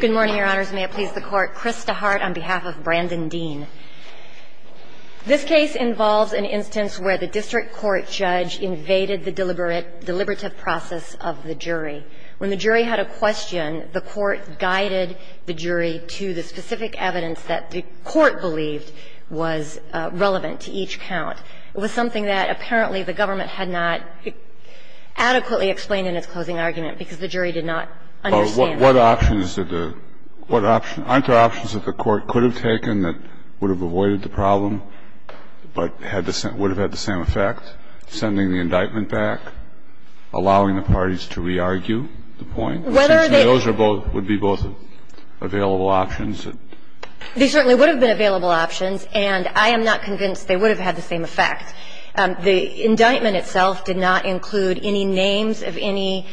Good morning, Your Honors. May it please the Court. Chris DeHart on behalf of Brandon Dean. This case involves an instance where the district court judge invaded the deliberative process of the jury. When the jury had a question, the court guided the jury to the specific evidence that the court believed was relevant to each count. It was something that apparently the government had not adequately explained in its closing argument because the jury did not understand. What options did the – what options – aren't there options that the court could have taken that would have avoided the problem, but had the – would have had the same effect, sending the indictment back, allowing the parties to re-argue the point? Whether they – So those are both – would be both available options? They certainly would have been available options, and I am not convinced they would have had the same effect. The indictment itself did not include any names of any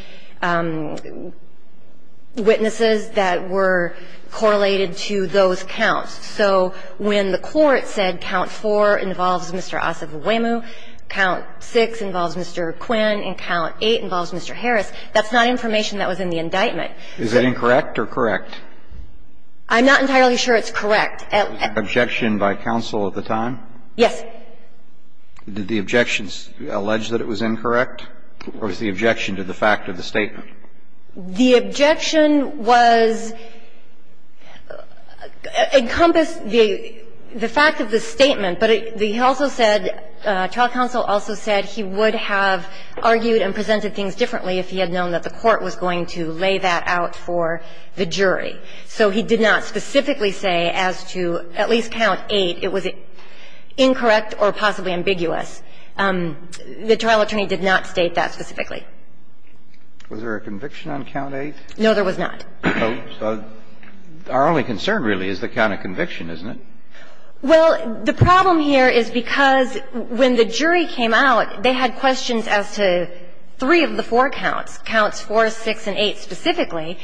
witnesses that were correlated to those counts. So when the court said count four involves Mr. Asa Iweimu, count six involves Mr. Quinn, and count eight involves Mr. Harris, that's not information that was in the indictment. Is it incorrect or correct? I'm not entirely sure it's correct. Objection by counsel at the time? Yes. Did the objections allege that it was incorrect, or was the objection to the fact of the statement? The objection was – encompassed the fact of the statement, but he also said – trial counsel also said he would have argued and presented things differently if he had known that the court was going to lay that out for the jury. So he did not specifically say as to at least count eight it was incorrect or possibly ambiguous. The trial attorney did not state that specifically. Was there a conviction on count eight? No, there was not. So our only concern really is the count of conviction, isn't it? Well, the problem here is because when the jury came out, they had questions as to three of the four counts, counts four, six, and eight specifically.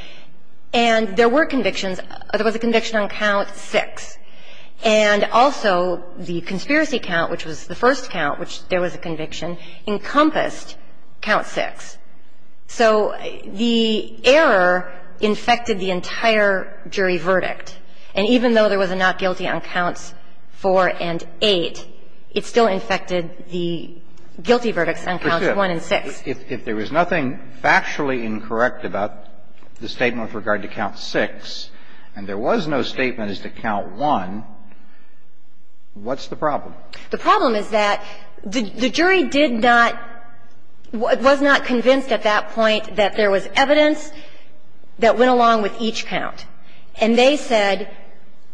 And there were convictions. There was a conviction on count six. And also, the conspiracy count, which was the first count, which there was a conviction, encompassed count six. So the error infected the entire jury verdict. And even though there was a not guilty on counts four and eight, it still infected the guilty verdicts on counts one and six. If there was nothing factually incorrect about the statement with regard to count six, and there was no statement as to count one, what's the problem? The problem is that the jury did not was not convinced at that point that there was evidence that went along with each count. And they said,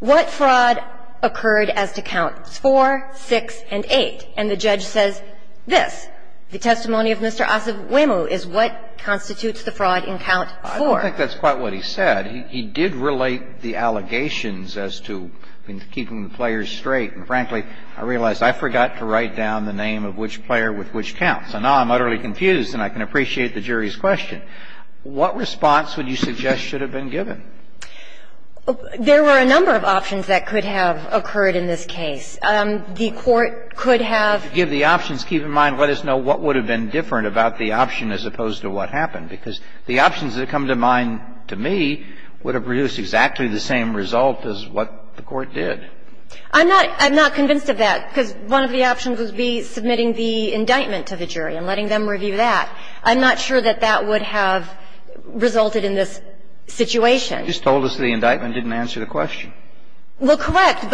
what fraud occurred as to counts four, six, and eight? And the judge says this, the testimony of Mr. Asivwemu is what constitutes the fraud in count four. I don't think that's quite what he said. He did relate the allegations as to keeping the players straight. And frankly, I realize I forgot to write down the name of which player with which count. So now I'm utterly confused, and I can appreciate the jury's question. What response would you suggest should have been given? There were a number of options that could have occurred in this case. The Court could have ---- To give the options, keep in mind, let us know what would have been different about the option as opposed to what happened. Because the options that come to mind to me would have produced exactly the same result as what the Court did. I'm not convinced of that, because one of the options would be submitting the indictment to the jury and letting them review that. I'm not sure that that would have resulted in this situation. You just told us the indictment didn't answer the question. Well, correct.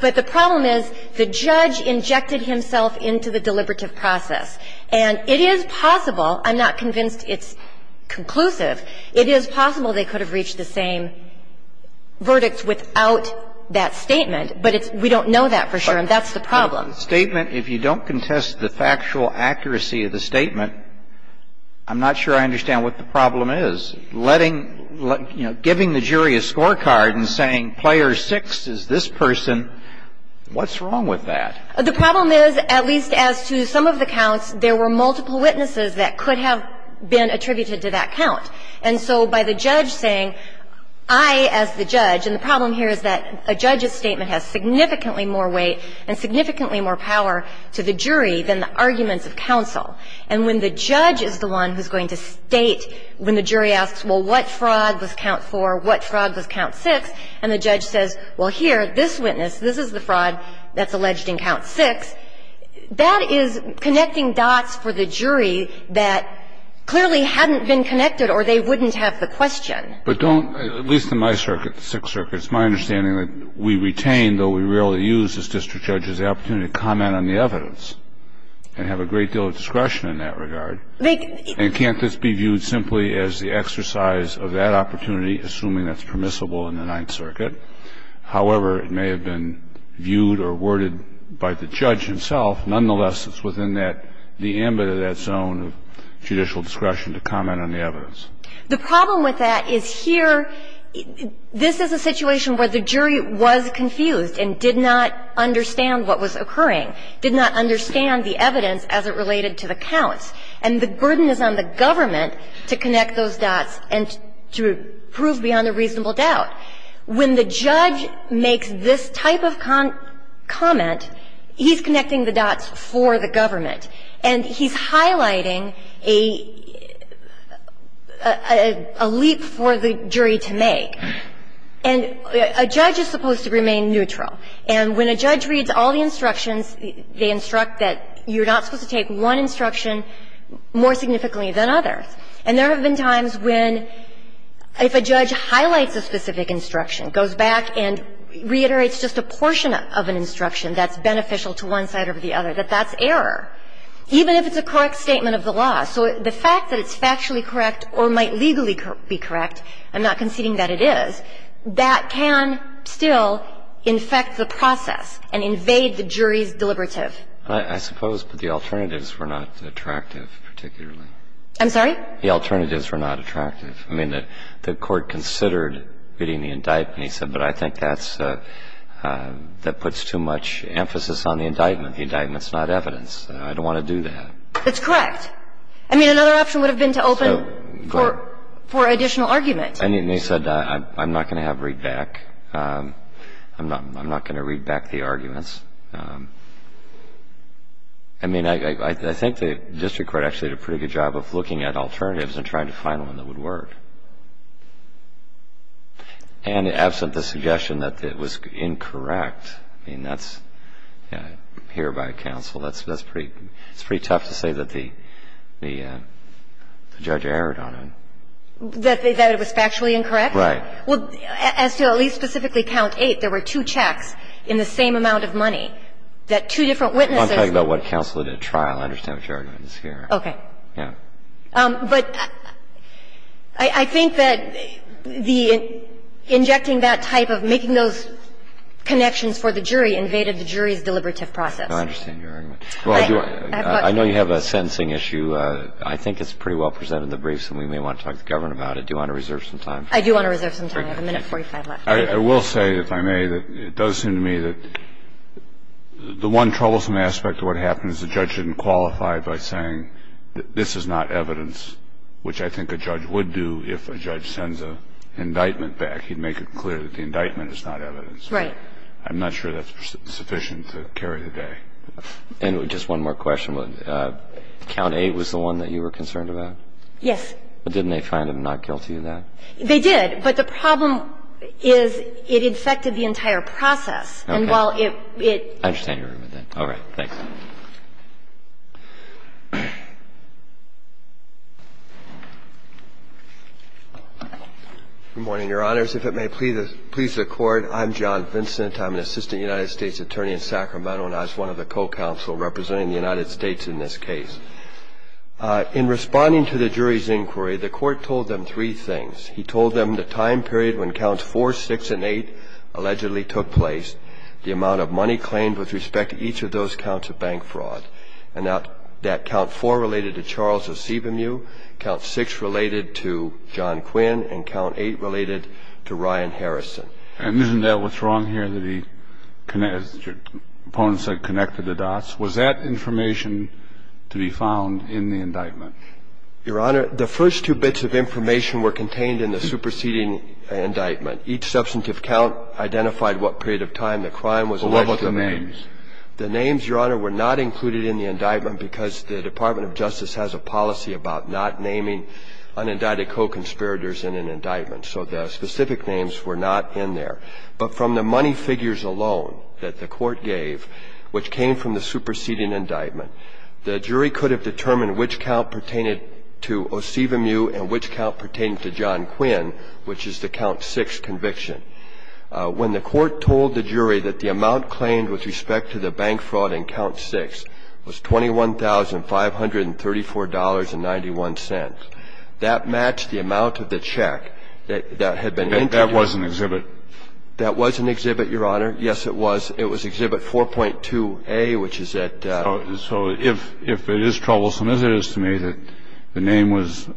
But the problem is the judge injected himself into the deliberative process. And it is possible, I'm not convinced it's conclusive, it is possible they could have reached the same verdicts without that statement. But we don't know that for sure, and that's the problem. But the statement, if you don't contest the factual accuracy of the statement, I'm not sure I understand what the problem is. The problem is, at least as to some of the counts, there were multiple witnesses that could have been attributed to that count. And so by the judge saying, I, as the judge, and the problem here is that a judge's statement has significantly more weight and significantly more power to the jury than the arguments of counsel. And when the judge is the one who's going to state when the jury asks the question, well, what fraud was count 4, what fraud was count 6, and the judge says, well, here, this witness, this is the fraud that's alleged in count 6, that is connecting dots for the jury that clearly hadn't been connected or they wouldn't have the question. But don't, at least in my circuit, the Sixth Circuit, it's my understanding that we retain, though we rarely use as district judges, the opportunity to comment on the evidence and have a great deal of discretion in that regard. And can't this be viewed simply as the exercise of that opportunity, assuming that's permissible in the Ninth Circuit? However, it may have been viewed or worded by the judge himself. Nonetheless, it's within that, the ambit of that zone of judicial discretion to comment on the evidence. The problem with that is here, this is a situation where the jury was confused and did not understand what was occurring, did not understand the evidence as it related to the counts. And the burden is on the government to connect those dots and to prove beyond a reasonable doubt. When the judge makes this type of comment, he's connecting the dots for the government. And he's highlighting a leap for the jury to make. And a judge is supposed to remain neutral. And when a judge reads all the instructions, they instruct that you're not supposed to take one instruction more significantly than others. And there have been times when, if a judge highlights a specific instruction, goes back and reiterates just a portion of an instruction that's beneficial to one side or the other, that that's error, even if it's a correct statement of the law. So the fact that it's factually correct or might legally be correct, I'm not conceding that it is, that can still infect the process and invade the jury's deliberative. that the alternatives were not attractive. I suppose, but the alternatives were not attractive, particularly. I'm sorry? The alternatives were not attractive. I mean, the court considered reading the indictment. He said, but I think that's the one that puts too much emphasis on the indictment. The indictment's not evidence. I don't want to do that. That's correct. I mean, another option would have been to open for additional argument. And he said, I'm not going to have readback. I'm not going to read back the arguments. I mean, I think the district court actually did a pretty good job of looking at alternatives and trying to find one that would work. And absent the suggestion that it was incorrect, I mean, that's, here by counsel, that's pretty tough to say that the judge erred on it. That it was factually incorrect? Right. Well, as to at least specifically count eight, there were two checks in the same amount of money that two different witnesses were. I'm talking about what counsel did at trial. I understand what your argument is here. Okay. Yeah. But I think that the injecting that type of making those connections for the jury invaded the jury's deliberative process. I understand your argument. Well, I do. I know you have a sentencing issue. I think it's pretty well presented in the briefs, and we may want to talk to the government about it. Do you want to reserve some time? I do want to reserve some time. I have a minute and 45 left. I will say, if I may, that it does seem to me that the one troublesome aspect of what happens, the judge didn't qualify by saying that this is not evidence, which I think a judge would do if a judge sends an indictment back. He'd make it clear that the indictment is not evidence. Right. I'm not sure that's sufficient to carry the day. And just one more question. Count A was the one that you were concerned about? Yes. But didn't they find him not guilty of that? They did, but the problem is it infected the entire process. Okay. And while it – it – I understand your argument there. All right. Thanks. Good morning, Your Honors. If it may please the Court, I'm John Vincent. I'm an assistant United States attorney in Sacramento, and I was one of the co-counsel representing the United States in this case. In responding to the jury's inquiry, the Court told them three things. He told them the time period when Counts 4, 6, and 8 allegedly took place, the amount of money claimed with respect to each of those counts of bank fraud, and that Count 4 related to Charles Osebemew, Count 6 related to John Quinn, and Count 8 related to Ryan Harrison. And isn't that what's wrong here, that he – as your opponent said, connected the dots? Was that information to be found in the indictment? Your Honor, the first two bits of information were contained in the superseding indictment. Each substantive count identified what period of time the crime was alleged to have been. Well, what about the names? The names, Your Honor, were not included in the indictment because the Department of Justice has a policy about not naming unindicted co-conspirators in an indictment. So the specific names were not in there. But from the money figures alone that the Court gave, which came from the superseding indictment, the jury could have determined which count pertained to Osebemew and which count pertained to John Quinn, which is the Count 6 conviction. When the Court told the jury that the amount claimed with respect to the bank fraud in Count 6 was $21,534.91, that matched the amount of the check that each of the three indictments contained in the indictment. And that was an exhibit? That was an exhibit, Your Honor. Yes, it was. It was Exhibit 4.2a, which is at the end of the indictment. So if it is troublesome as it is to me that the name was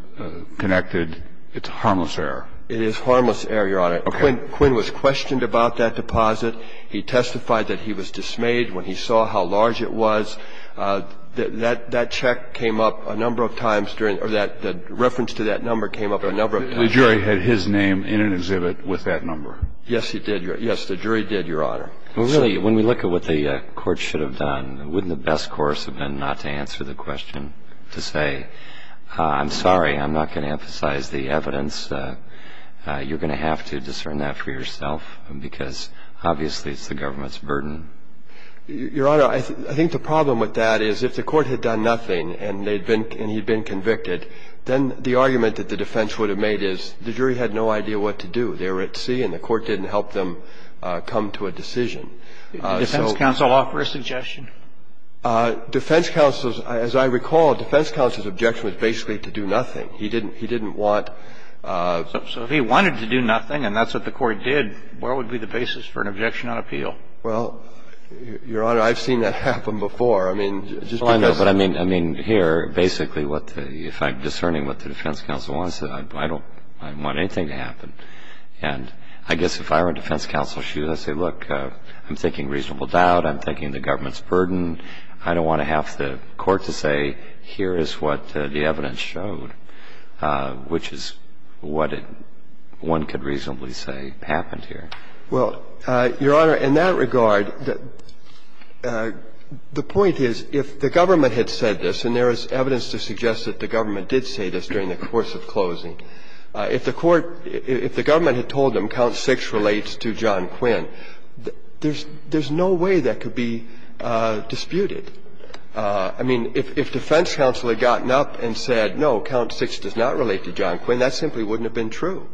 connected, it's harmless error? It is harmless error, Your Honor. Okay. Quinn was questioned about that deposit. He testified that he was dismayed when he saw how large it was. So that check came up a number of times during or that reference to that number came up a number of times. The jury had his name in an exhibit with that number? Yes, it did, Your Honor. Yes, the jury did, Your Honor. Well, really, when we look at what the Court should have done, wouldn't the best course have been not to answer the question, to say, I'm sorry, I'm not going to emphasize the evidence. You're going to have to discern that for yourself, because obviously it's the government's burden. Your Honor, I think the problem with that is if the Court had done nothing and he'd been convicted, then the argument that the defense would have made is the jury had no idea what to do. They were at sea and the Court didn't help them come to a decision. Did the defense counsel offer a suggestion? Defense counsel's, as I recall, defense counsel's objection was basically to do nothing. He didn't want to do nothing. So if he wanted to do nothing and that's what the Court did, where would be the basis for an objection on appeal? Well, Your Honor, I've seen that happen before. I mean, just because of the ---- Well, I know, but I mean, I mean, here, basically what the ---- if I'm discerning what the defense counsel wants, I don't ---- I don't want anything to happen. And I guess if I were a defense counsel, should I say, look, I'm thinking reasonable doubt, I'm thinking the government's burden, I don't want to have the Court to say, here is what the evidence showed, which is what one could reasonably say happened here. Well, Your Honor, in that regard, the point is, if the government had said this, and there is evidence to suggest that the government did say this during the course of closing, if the Court ---- if the government had told them count 6 relates to John Quinn, there's no way that could be disputed. I mean, if defense counsel had gotten up and said, no, count 6 does not relate to John Quinn, that simply wouldn't have been true.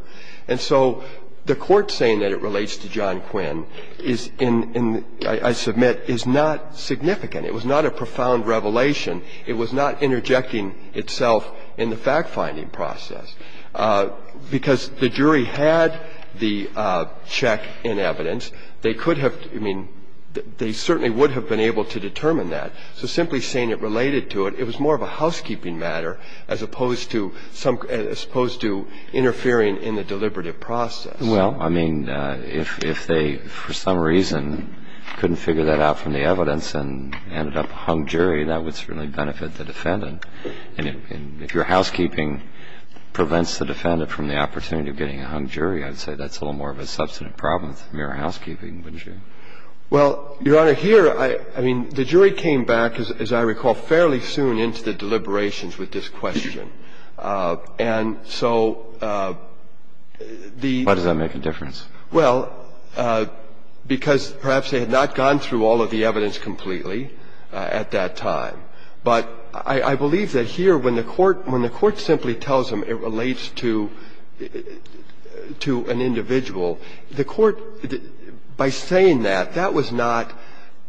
And so the Court saying that it relates to John Quinn is in ---- I submit is not significant. It was not a profound revelation. It was not interjecting itself in the fact-finding process. Because the jury had the check in evidence, they could have ---- I mean, they certainly would have been able to determine that. So simply saying it related to it, it was more of a housekeeping matter as opposed to some ---- as opposed to interfering in the deliberative process. Well, I mean, if they, for some reason, couldn't figure that out from the evidence and ended up a hung jury, that would certainly benefit the defendant. And if your housekeeping prevents the defendant from the opportunity of getting a hung jury, I'd say that's a little more of a substantive problem than mere housekeeping, wouldn't you? Well, Your Honor, here, I mean, the jury came back, as I recall, fairly soon into the deliberations with this question. And so the ---- Why does that make a difference? Well, because perhaps they had not gone through all of the evidence completely at that time. But I believe that here, when the Court simply tells them it relates to an individual, the Court, by saying that, that was not ----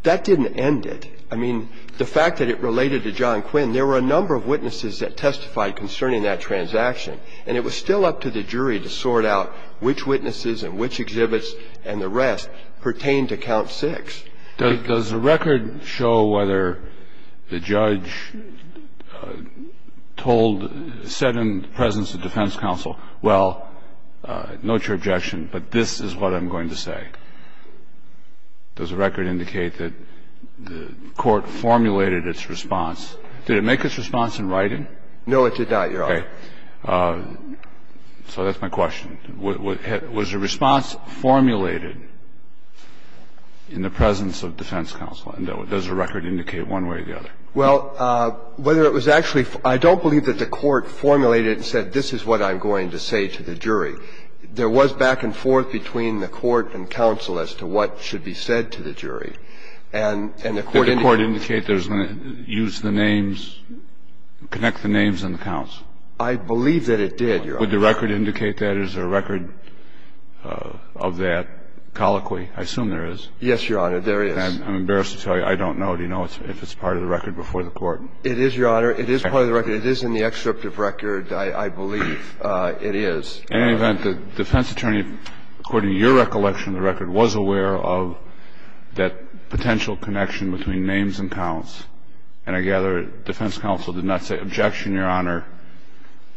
that didn't end it. I mean, the fact that it related to John Quinn, there were a number of witnesses that testified concerning that transaction. And it was still up to the jury to sort out which witnesses and which exhibits and the rest pertained to Count Six. Does the record show whether the judge told ---- said in the presence of defense counsel, well, note your objection, but this is what I'm going to say? Does the record indicate that the Court formulated its response? Did it make its response in writing? No, it did not, Your Honor. Okay. So that's my question. Was the response formulated in the presence of defense counsel? And does the record indicate one way or the other? Well, whether it was actually ---- I don't believe that the Court formulated and said this is what I'm going to say to the jury. There was back and forth between the Court and counsel as to what should be said to the jury. And the Court indicated ---- I believe that it did, Your Honor. Would the record indicate that? Is there a record of that colloquy? I assume there is. Yes, Your Honor, there is. I'm embarrassed to tell you I don't know. Do you know if it's part of the record before the Court? It is, Your Honor. It is part of the record. It is in the excerpt of record, I believe it is. In any event, the defense attorney, according to your recollection, the record was aware of that potential connection between names and counts. And I gather defense counsel did not say, objection, Your Honor,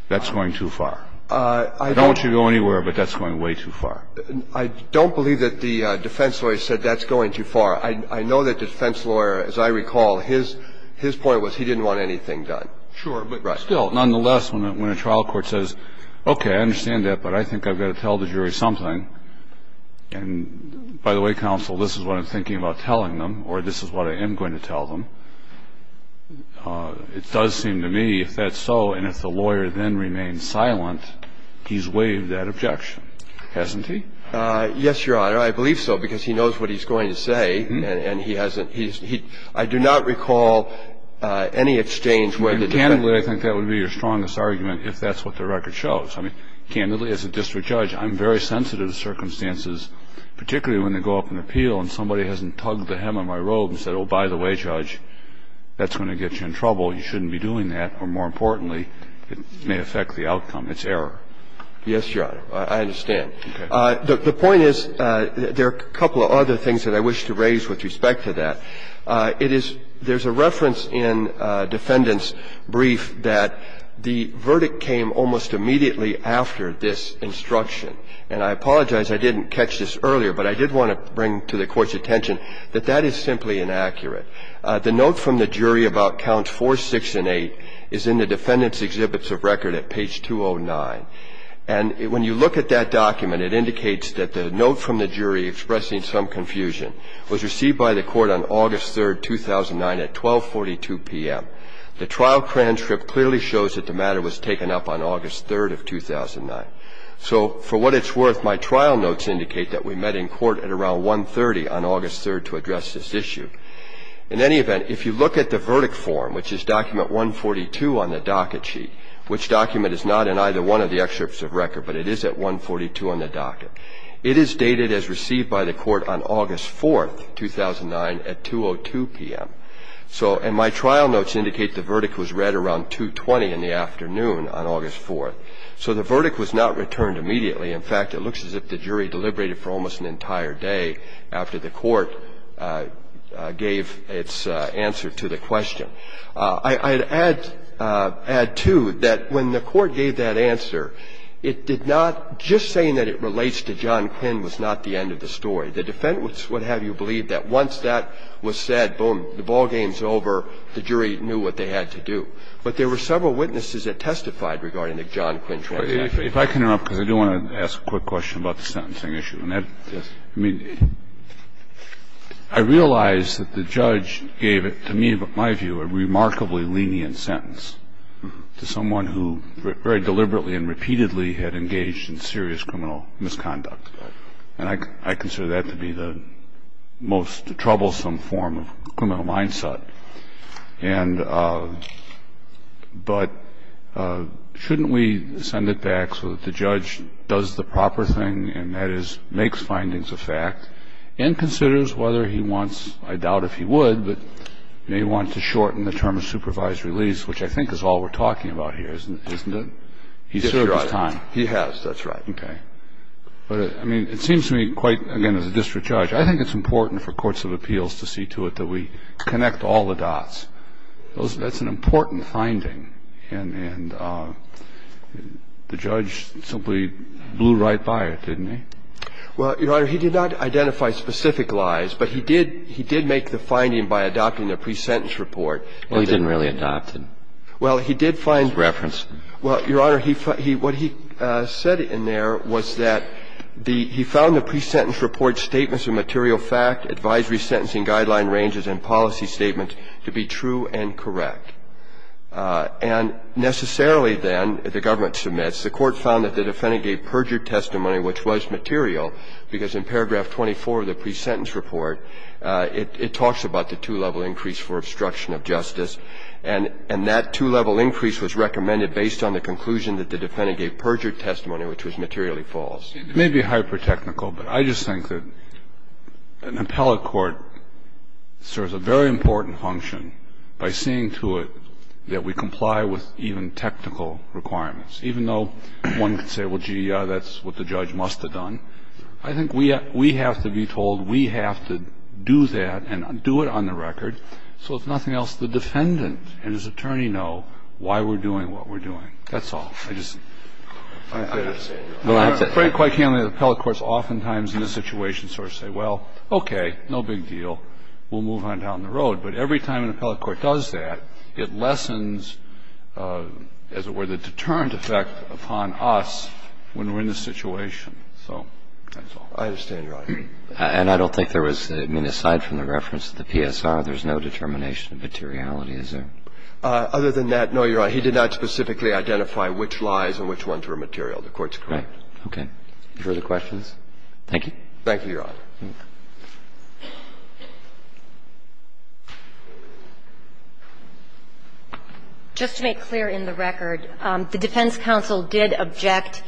that's going too far. I don't want you to go anywhere, but that's going way too far. I don't believe that the defense lawyer said that's going too far. I know that defense lawyer, as I recall, his point was he didn't want anything done. Sure, but still, nonetheless, when a trial court says, okay, I understand that, but I think I've got to tell the jury something, and by the way, counsel, this is what I'm going to tell the jury, it does seem to me, if that's so, and if the lawyer then remains silent, he's waived that objection, hasn't he? Yes, Your Honor, I believe so, because he knows what he's going to say, and he hasn't he's he I do not recall any exchange where the defense. Candidly, I think that would be your strongest argument, if that's what the record shows. I mean, candidly, as a district judge, I'm very sensitive to circumstances, particularly when they go up on appeal and somebody hasn't tugged the hem of my robe and said, oh, by the way, Judge, that's going to get you in trouble, you shouldn't be doing that, or more importantly, it may affect the outcome. It's error. Yes, Your Honor, I understand. The point is, there are a couple of other things that I wish to raise with respect to that. It is – there's a reference in defendant's brief that the verdict came almost immediately after this instruction. And I apologize I didn't catch this earlier, but I did want to bring to the Court's The note from the jury about counts 4, 6, and 8 is in the defendant's exhibits of record at page 209. And when you look at that document, it indicates that the note from the jury expressing some confusion was received by the Court on August 3, 2009, at 1242 p.m. The trial transcript clearly shows that the matter was taken up on August 3, 2009. So for what it's worth, my trial notes indicate that we met in court at around 1.30 on August 3 to address this issue. In any event, if you look at the verdict form, which is document 142 on the docket sheet, which document is not in either one of the excerpts of record, but it is at 142 on the docket, it is dated as received by the Court on August 4, 2009, at 202 p.m. So – and my trial notes indicate the verdict was read around 2.20 in the afternoon on August 4. So the verdict was not returned immediately. In fact, it looks as if the jury deliberated for almost an entire day after the court gave its answer to the question. I'd add, too, that when the court gave that answer, it did not – just saying that it relates to John Quinn was not the end of the story. The defense would have you believe that once that was said, boom, the ballgame's over, the jury knew what they had to do. But there were several witnesses that testified regarding the John Quinn trial. Kennedy. Kennedy. If I can interrupt, because I do want to ask a quick question about the sentencing issue. And that – I mean, I realize that the judge gave it, to me, in my view, a remarkably lenient sentence to someone who very deliberately and repeatedly had engaged in serious criminal misconduct. And I consider that to be the most troublesome form of criminal mindset. And – but shouldn't we send it back so that the judge does the proper thing, and that is, makes findings of fact, and considers whether he wants – I doubt if he would, but may want to shorten the term of supervised release, which I think is all we're talking about here, isn't it? He served his time. He has. That's right. Okay. But, I mean, it seems to me quite – again, as a district judge, I think it's important for courts of appeals to see to it that we connect all the dots. Those – that's an important finding. And the judge simply blew right by it, didn't he? Well, Your Honor, he did not identify specific lies, but he did – he did make the finding by adopting the pre-sentence report. Well, he didn't really adopt it. Well, he did find – As reference. Well, Your Honor, he – what he said in there was that the – he found the pre-sentence report's statements of material fact, advisory sentencing guideline ranges, and policy statement to be true and correct. And necessarily, then, if the government submits, the court found that the defendant gave perjured testimony, which was material, because in paragraph 24 of the pre-sentence report, it talks about the two-level increase for obstruction of justice. And that two-level increase was recommended based on the conclusion that the defendant gave perjured testimony, which was materially false. It may be hyper-technical, but I just think that an appellate court serves a very important function by seeing to it that we comply with even technical requirements. Even though one could say, well, gee, that's what the judge must have done, I think we have to be told, we have to do that and do it on the record, so if nothing else, the defendant and his attorney know why we're doing what we're doing. That's all. I just – I understand, Your Honor. Well, I think quite candidly, appellate courts oftentimes in this situation sort of say, well, okay, no big deal, we'll move on down the road. But every time an appellate court does that, it lessens, as it were, the deterrent effect upon us when we're in this situation. So that's all. I understand, Your Honor. And I don't think there was – I mean, aside from the reference to the PSR, there's no determination of materiality, is there? Other than that, no, Your Honor. He did not specifically identify which lies and which ones were material. The Court's correct. Okay. Further questions? Thank you. Thank you, Your Honor. Just to make clear in the record, the defense counsel did object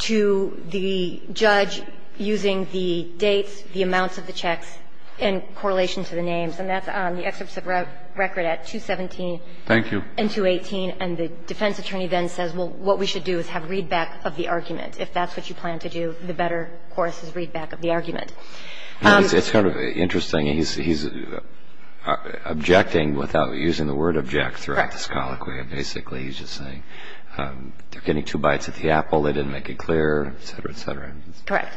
to the judge using the dates, the amounts of the checks in correlation to the names, and that's on the excerpts of record at 217 and 218, and the defense attorney then says, well, what we should do is have readback of the argument. If that's what you plan to do, the better course is readback of the argument. It's kind of interesting. He's objecting without using the word object throughout this colloquy. Basically, he's just saying, they're getting two bites at the apple. They didn't make it clear, et cetera, et cetera. Correct.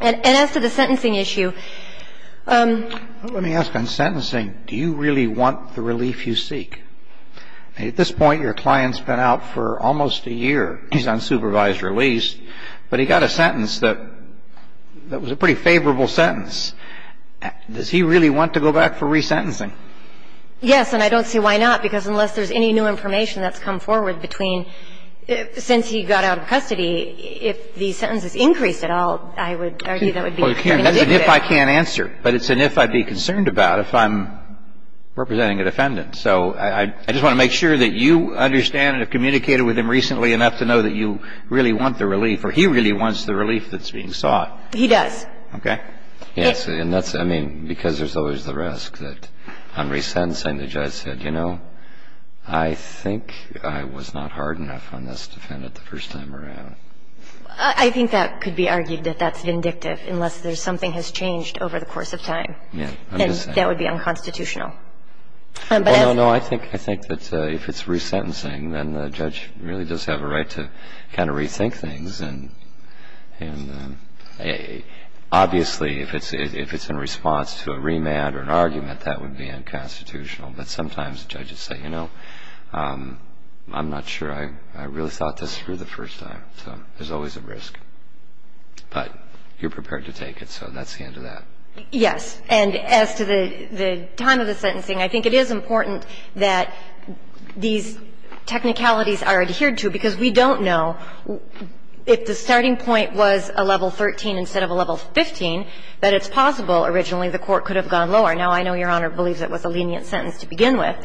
And as to the sentencing issue – Let me ask. On sentencing, do you really want the relief you seek? At this point, your client's been out for almost a year. He's on supervised release, but he got a sentence that was a pretty favorable sentence. Does he really want to go back for resentencing? Yes, and I don't see why not, because unless there's any new information that's come forward between – since he got out of custody, if the sentence is increased at all, I would argue that would be a good thing to do. That's an if I can't answer, but it's an if I'd be concerned about if I'm representing a defendant. So I just want to make sure that you understand and have communicated with him recently enough to know that you really want the relief, or he really wants the relief that's being sought. He does. Okay. Yes, and that's – I mean, because there's always the risk that on resentencing, the judge said, you know, I think I was not hard enough on this defendant the first time around. I think that could be argued that that's vindictive, unless there's something has changed over the course of time. Yeah. And that would be unconstitutional. No, no, no. I think that if it's resentencing, then the judge really does have a right to kind of rethink things. And obviously, if it's in response to a remand or an argument, that would be unconstitutional. But sometimes judges say, you know, I'm not sure I really thought this through the first time. So there's always a risk. But you're prepared to take it, so that's the end of that. Yes. And as to the time of the sentencing, I think it is important that these technicalities are adhered to, because we don't know if the starting point was a level 13 instead of a level 15, that it's possible originally the court could have gone lower. Now, I know Your Honor believes it was a lenient sentence to begin with.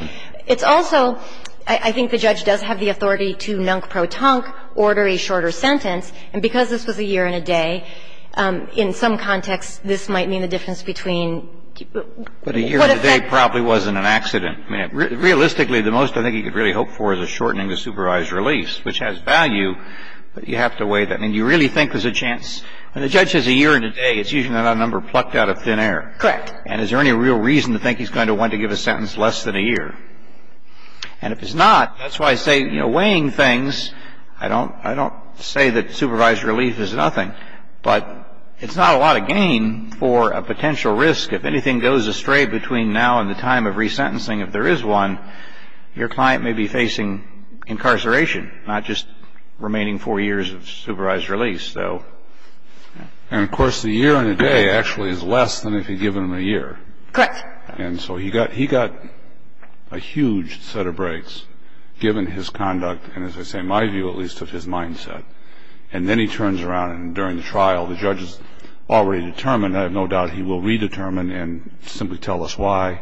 It's also – I think the judge does have the authority to nunk pro tonk, order a shorter sentence. And because this was a year and a day, in some contexts, this might mean the difference between what effect – But a year and a day probably wasn't an accident. I mean, realistically, the most I think he could really hope for is a shortening to supervised relief, which has value, but you have to weigh that. I mean, do you really think there's a chance – when a judge has a year and a day, it's usually not a number plucked out of thin air. Correct. And is there any real reason to think he's going to want to give a sentence less than a year? And if it's not, that's why I say, you know, weighing things, I don't say that supervised relief is nothing. But it's not a lot of gain for a potential risk. If anything goes astray between now and the time of resentencing, if there is one, your client may be facing incarceration, not just remaining four years of supervised release. And of course, the year and a day actually is less than if you give him a year. Correct. And so he got a huge set of breaks, given his conduct, and as I say, my view at least, of his mindset. And then he turns around, and during the trial, the judge has already determined, I have no doubt he will redetermine and simply tell us why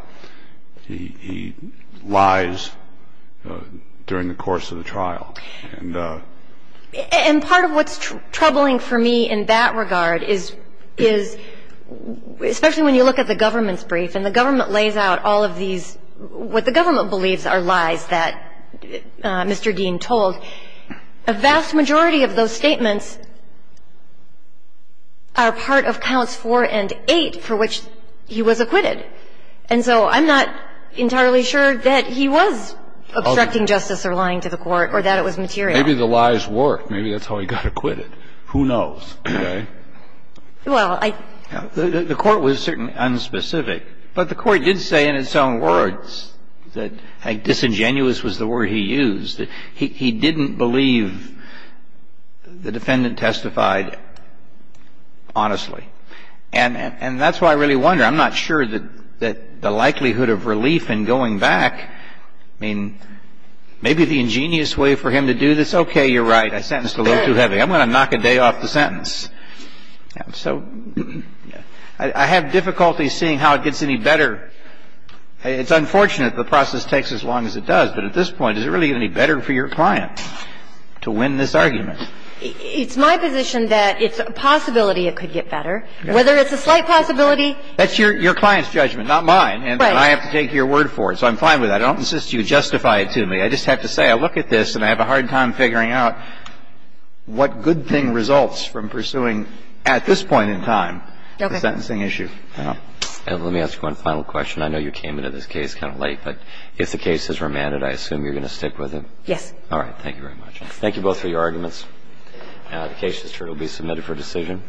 he lies during the course of the trial. And part of what's troubling for me in that regard is, especially when you look at the government's brief, and the government lays out all of these – what Mr. Dean told, a vast majority of those statements are part of counts 4 and 8 for which he was acquitted. And so I'm not entirely sure that he was obstructing justice or lying to the court, or that it was material. Maybe the lies worked. Maybe that's how he got acquitted. Who knows, right? Well, I – The court was certainly unspecific, but the court did say in its own words that – disingenuous was the word he used – he didn't believe the defendant testified honestly. And that's why I really wonder. I'm not sure that the likelihood of relief in going back – I mean, maybe the ingenious way for him to do this – okay, you're right. I sentenced a little too heavy. I'm going to knock a day off the sentence. So I have difficulty seeing how it gets any better. It's unfortunate the process takes as long as it does, but at this point, is it really any better for your client to win this argument? It's my position that it's a possibility it could get better. Whether it's a slight possibility – That's your client's judgment, not mine. Right. And I have to take your word for it. So I'm fine with that. I don't insist you justify it to me. I just have to say I look at this and I have a hard time figuring out what good thing results from pursuing at this point in time the sentencing issue. Okay. And let me ask one final question. I know you came into this case kind of late, but if the case is remanded, I assume you're going to stick with it? Yes. All right. Thank you very much. Thank you both for your arguments. The case history will be submitted for decision.